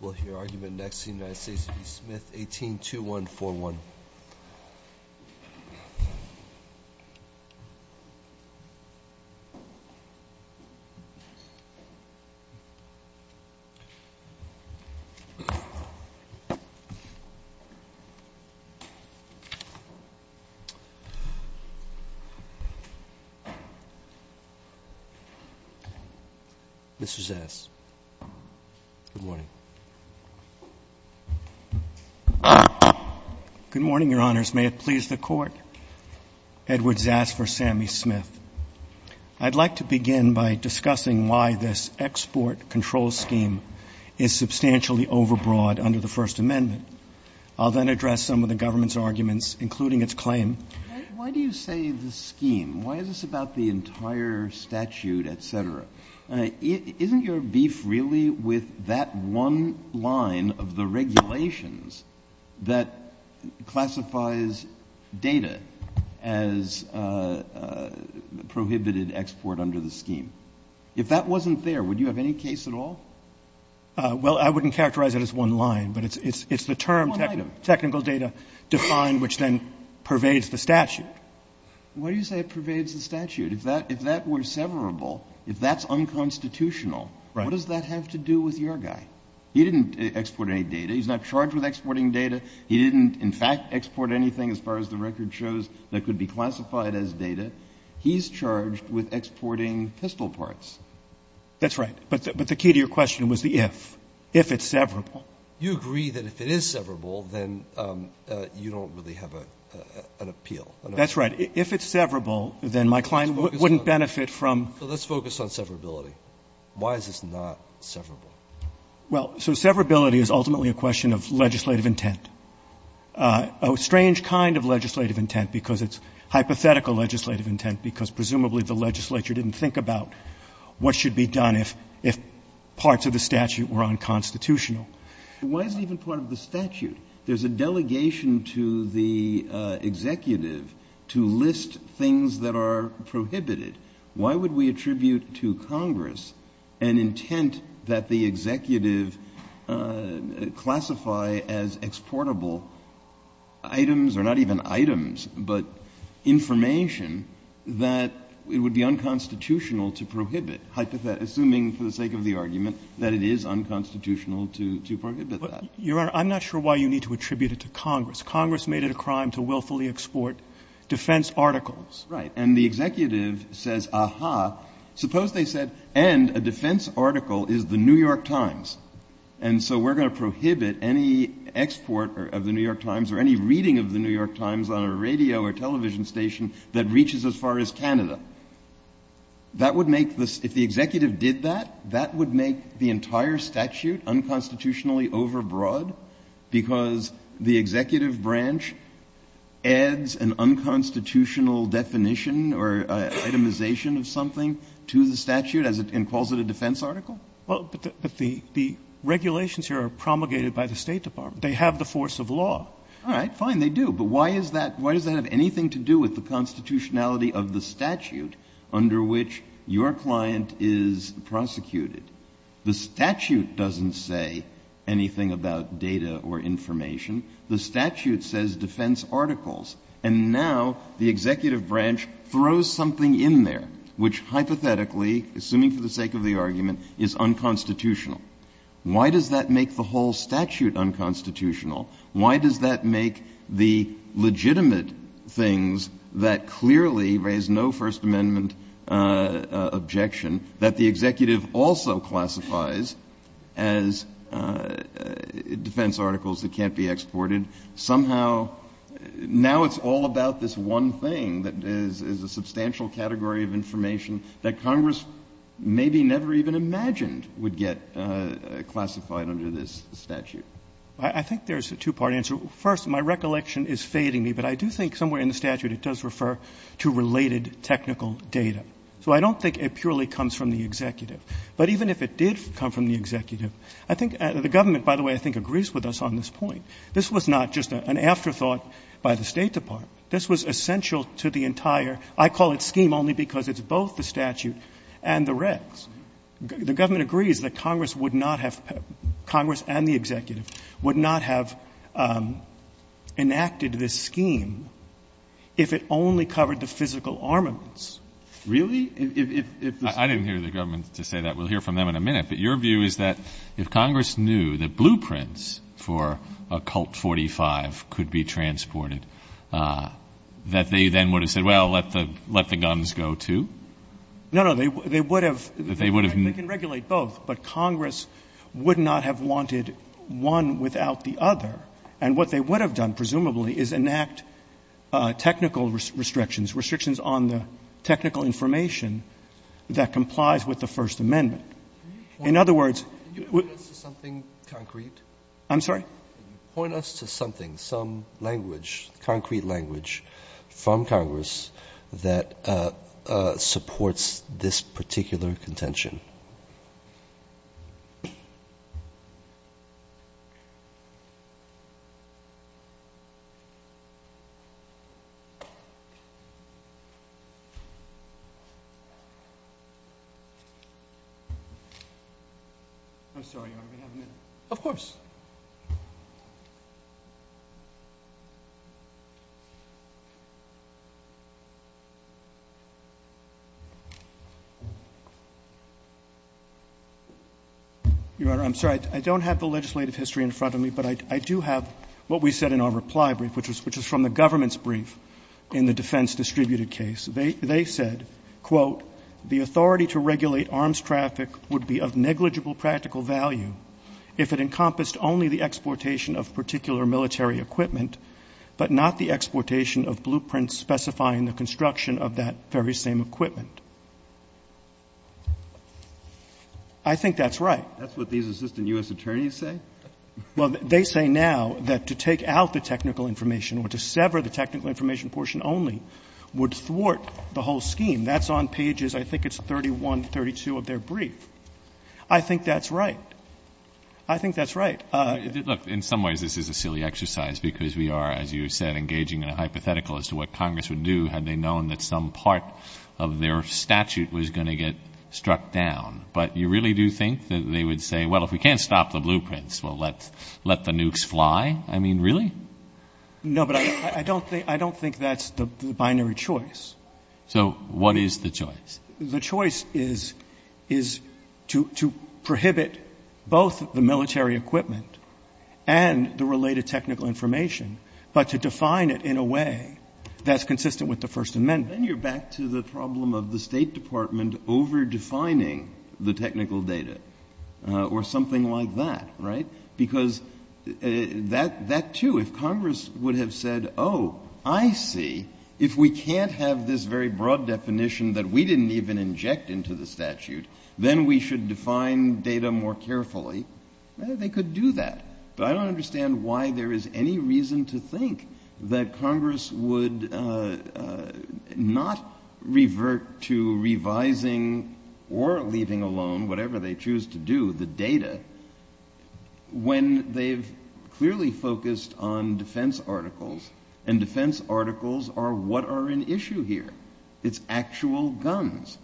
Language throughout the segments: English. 182141. Mr. Zass, good morning. Good morning, Your Honors. May it please the Court, Edward Zass v. Sammy Smith. I'd like to begin by discussing why this export control scheme is substantially overbroad under the First Amendment. I'll then address some of the government's arguments, including its claim. Why do you say the scheme? Why is this about the entire statute, et cetera? Isn't your beef really with that one line of the regulations that classifies data as prohibited export under the scheme? If that wasn't there, would you have any case at all? Well, I wouldn't characterize it as one line, but it's the term technical data defined, which then pervades the statute. Why do you say it pervades the statute? If that were severable, if that's unconstitutional, what does that have to do with your guy? He didn't export any data. He's not charged with exporting data. He didn't, in fact, export anything as far as the record shows that could be classified as data. He's charged with exporting pistol parts. That's right. But the key to your question was the if. If it's severable. You agree that if it is severable, then you don't really have an appeal. That's right. If it's severable, then my client wouldn't benefit from. So let's focus on severability. Why is this not severable? Well, so severability is ultimately a question of legislative intent. A strange kind of legislative intent because it's hypothetical legislative intent because presumably the legislature didn't think about what should be done if parts of the statute were unconstitutional. Why is it even part of the statute? There's a delegation to the executive to list things that are prohibited. Why would we attribute to Congress an intent that the executive classify as exportable items or not even items, but information that it would be unconstitutional to prohibit, assuming for the sake of the argument that it is unconstitutional to prohibit that. Your Honor, I'm not sure why you need to attribute it to Congress. Congress made it a crime to willfully export defense articles. Right. And the executive says, aha, suppose they said, and a defense article is the New York Times, and so we're going to prohibit any export of the New York Times or any reading of the New York Times on a radio or television station that reaches as far as Canada, that would make the executive did that, that would make the entire statute unconstitutionally overbroad because the executive branch adds an unconstitutional definition or itemization of something to the statute and calls it a defense article? Well, but the regulations here are promulgated by the State Department. They have the force of law. All right, fine, they do. But why is that? Why does that have anything to do with the constitutionality of the statute under which your client is prosecuted? The statute doesn't say anything about data or information. The statute says defense articles. And now the executive branch throws something in there which hypothetically, assuming for the sake of the argument, is unconstitutional. Why does that make the whole statute unconstitutional? Why does that make the legitimate things that clearly raise no First Amendment objection that the executive also classifies as defense articles that can't be exported? Somehow, now it's all about this one thing that is a substantial category of information that Congress maybe never even imagined would get classified under this statute. I think there's a two-part answer. First, my recollection is fading me, but I do think somewhere in the statute it does refer to related technical data. So I don't think it purely comes from the executive. But even if it did come from the executive, I think the government, by the way, I think agrees with us on this point. This was not just an afterthought by the State Department. This was essential to the entire, I call it scheme only because it's both the statute and the regs. The government agrees that Congress would not have, Congress and the executive, would not have enacted this scheme if it only covered the physical armaments. Really? I didn't hear the government to say that. We'll hear from them in a minute. But your view is that if Congress knew that blueprints for a Colt 45 could be transported, that they then would have said, well, let the guns go, too? No, no. They would have. They would have. They can regulate both, but Congress would not have wanted one without the other. And what they would have done, presumably, is enact technical restrictions, restrictions on the technical information that complies with the First Amendment. In other words, would you point us to something concrete? I'm sorry? Point us to something, some language, concrete language from Congress that supports this particular contention. I'm sorry. Of course. Your Honor, I'm sorry. I don't have the legislative history in front of me, but I do have what we said in our reply brief, which was from the government's brief in the defense distributed They said, quote, I think that's right. That's what these assistant U.S. attorneys say? Well, they say now that to take out the technical information or to sever the technical information portion only would thwart the whole scheme. That's on pages, I think it's 31, 32 of their brief. I think that's right. I think that's right. Look, in some ways this is a silly exercise, because we are, as you said, engaging in a hypothetical as to what Congress would do had they known that some part of their statute was going to get struck down. But you really do think that they would say, well, if we can't stop the blueprints, well, let the nukes fly? I mean, really? No, but I don't think that's the binary choice. So what is the choice? The choice is to prohibit both the military equipment and the related technical information, but to define it in a way that's consistent with the First Amendment. Then you're back to the problem of the State Department overdefining the technical data or something like that, right? Because that, too, if Congress would have said, oh, I see, if we can't have this very broad definition that we didn't even inject into the statute, then we should define data more carefully, they could do that. But I don't understand why there is any reason to think that Congress would not revert to revising or leaving alone whatever they choose to do, the data, when they've clearly focused on defense articles, and defense articles are what are in issue here. It's actual guns.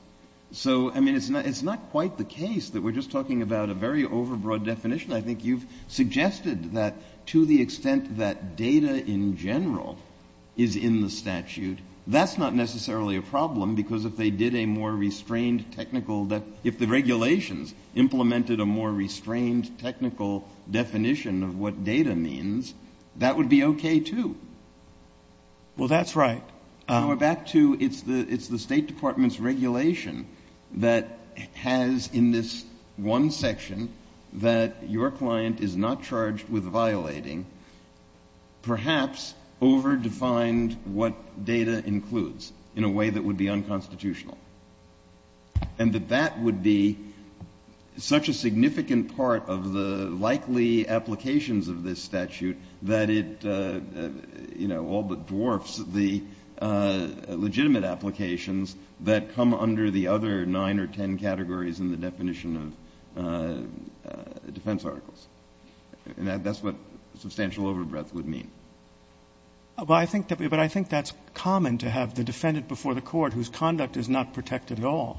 So, I mean, it's not quite the case that we're just talking about a very overbroad definition. I think you've suggested that to the extent that data in general is in the statute, that's not necessarily a problem, because if they did a more restrained technical definition, if the regulations implemented a more restrained technical definition of what data means, that would be okay, too. Well, that's right. And we're back to it's the State Department's regulation that has in this one section that your client is not charged with violating perhaps overdefined what data includes in a way that would be unconstitutional. And that that would be such a significant part of the likely applications of this statute that it, you know, all but dwarfs the legitimate applications that come under the other nine or ten categories in the definition of defense articles. And that's what substantial overbreadth would mean. But I think that's common to have the defendant before the court whose conduct is not protected at all.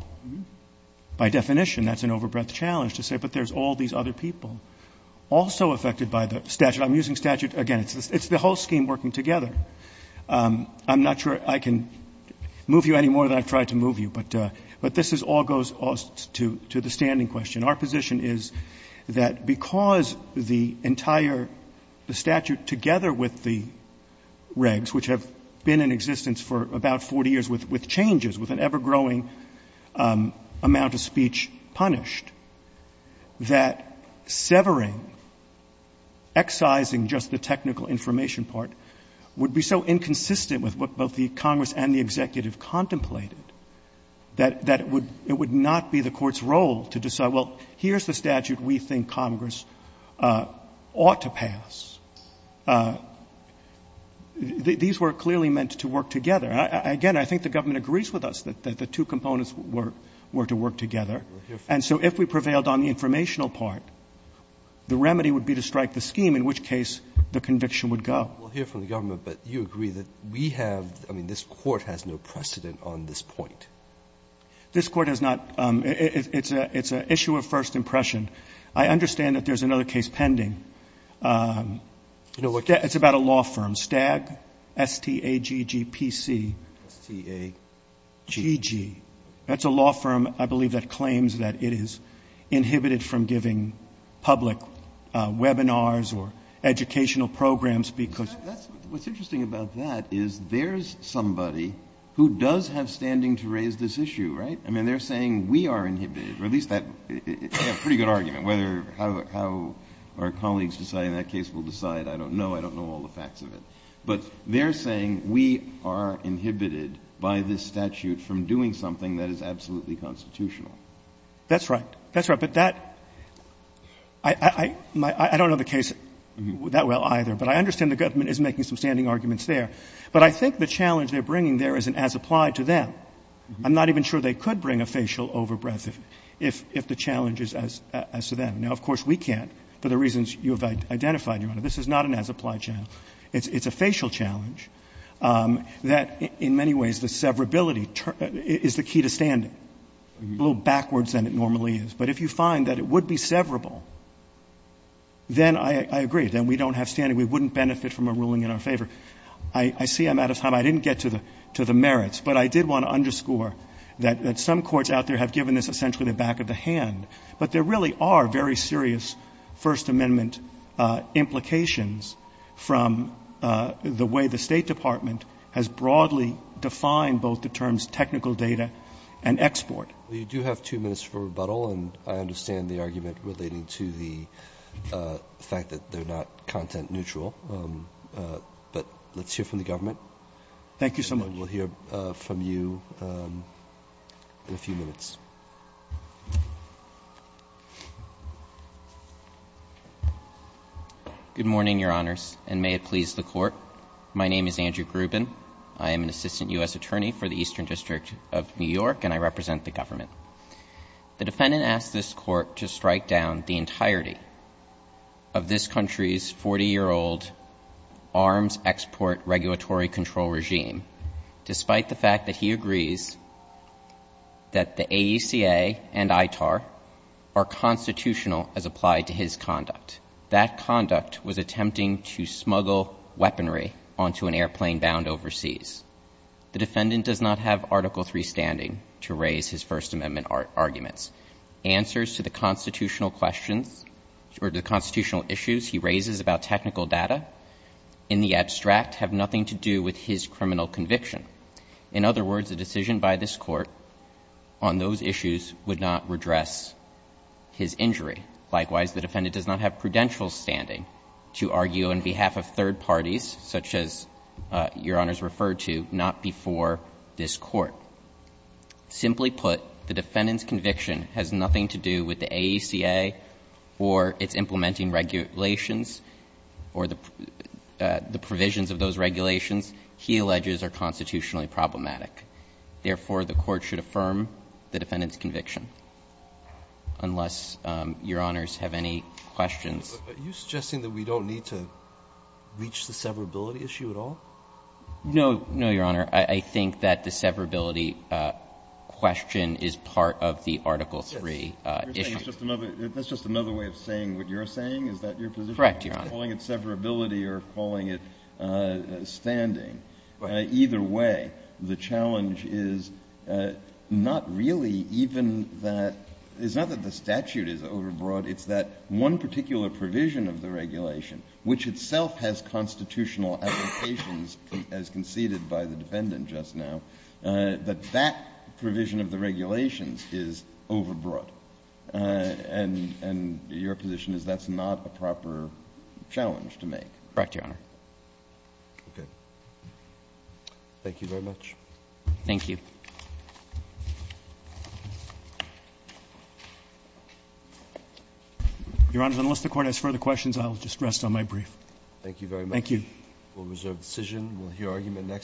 By definition, that's an overbreadth challenge to say, but there's all these other people also affected by the statute. I'm using statute again. It's the whole scheme working together. I'm not sure I can move you any more than I've tried to move you, but this all goes to the standing question. Our position is that because the entire statute together with the regs, which have been in existence for about 40 years with changes, with an ever-growing amount of speech punished, that severing, excising just the technical information part would be so inconsistent with what both the Congress and the executive contemplated that it would not be the court's role to decide, well, here's the statute we think Congress ought to pass. These were clearly meant to work together. Again, I think the government agrees with us that the two components were to work together. And so if we prevailed on the informational part, the remedy would be to strike the scheme, in which case the conviction would go. Roberts. We'll hear from the government, but you agree that we have, I mean, this Court has no precedent on this point. This Court has not. It's an issue of first impression. I understand that there's another case pending. It's about a law firm, Stag, S-T-A-G-G-P-C. S-T-A-G-G. That's a law firm, I believe, that claims that it is inhibited from giving public webinars or educational programs because of the statute. Breyer. What's interesting about that is there's somebody who does have standing to raise this issue, right? I mean, they're saying we are inhibited, or at least that's a pretty good argument. Whether how our colleagues decide in that case will decide, I don't know. I don't know all the facts of it. But they're saying we are inhibited by this statute from doing something that is absolutely constitutional. That's right. That's right. But that — I don't know the case that well, either. But I understand the government is making some standing arguments there. But I think the challenge they're bringing there is an as-applied to them. I'm not even sure they could bring a facial overbreath if the challenge is as to them. Now, of course, we can't, for the reasons you have identified, Your Honor. This is not an as-applied challenge. It's a facial challenge that, in many ways, the severability is the key to standing, a little backwards than it normally is. But if you find that it would be severable, then I agree. Then we don't have standing. We wouldn't benefit from a ruling in our favor. I see I'm out of time. I didn't get to the merits. But I did want to underscore that some courts out there have given this essentially the back of the hand. But there really are very serious First Amendment implications from the way the State Department has broadly defined both the terms technical data and export. You do have two minutes for rebuttal, and I understand the argument relating to the fact that they're not content neutral. But let's hear from the government. Thank you so much. And then we'll hear from you in a few minutes. Good morning, Your Honors, and may it please the Court. My name is Andrew Grubin. I am an assistant U.S. attorney for the Eastern District of New York, and I represent the government. The defendant asked this Court to strike down the entirety of this country's 40-year-old arms export regulatory control regime, despite the fact that he agrees that the AECA and ITAR are constitutional as applied to his conduct. That conduct was attempting to smuggle weaponry onto an airplane bound overseas. The defendant does not have Article III standing to raise his First Amendment arguments. Answers to the constitutional questions or the constitutional issues he raises about technical data in the abstract have nothing to do with his criminal conviction. In other words, a decision by this Court on those issues would not redress his injury. Likewise, the defendant does not have prudential standing to argue on behalf of third parties, such as Your Honors referred to, not before this Court. Simply put, the defendant's conviction has nothing to do with the AECA or its implementing regulations or the provisions of those regulations he alleges are constitutionally problematic. Therefore, the Court should affirm the defendant's conviction, unless Your Honors have any questions. Are you suggesting that we don't need to reach the severability issue at all? No. No, Your Honor. I think that the severability question is part of the Article III issue. That's just another way of saying what you're saying? Is that your position? Correct, Your Honor. I'm not calling it severability or calling it standing. Either way, the challenge is not really even that – it's not that the statute is overbroad. It's that one particular provision of the regulation, which itself has constitutional applications as conceded by the defendant just now, that that provision of the regulations is overbroad. And your position is that's not a proper challenge to make. Correct, Your Honor. Okay. Thank you very much. Thank you. Your Honors, unless the Court has further questions, I'll just rest on my brief. Thank you very much. Thank you. We'll reserve the decision. We'll hear argument next.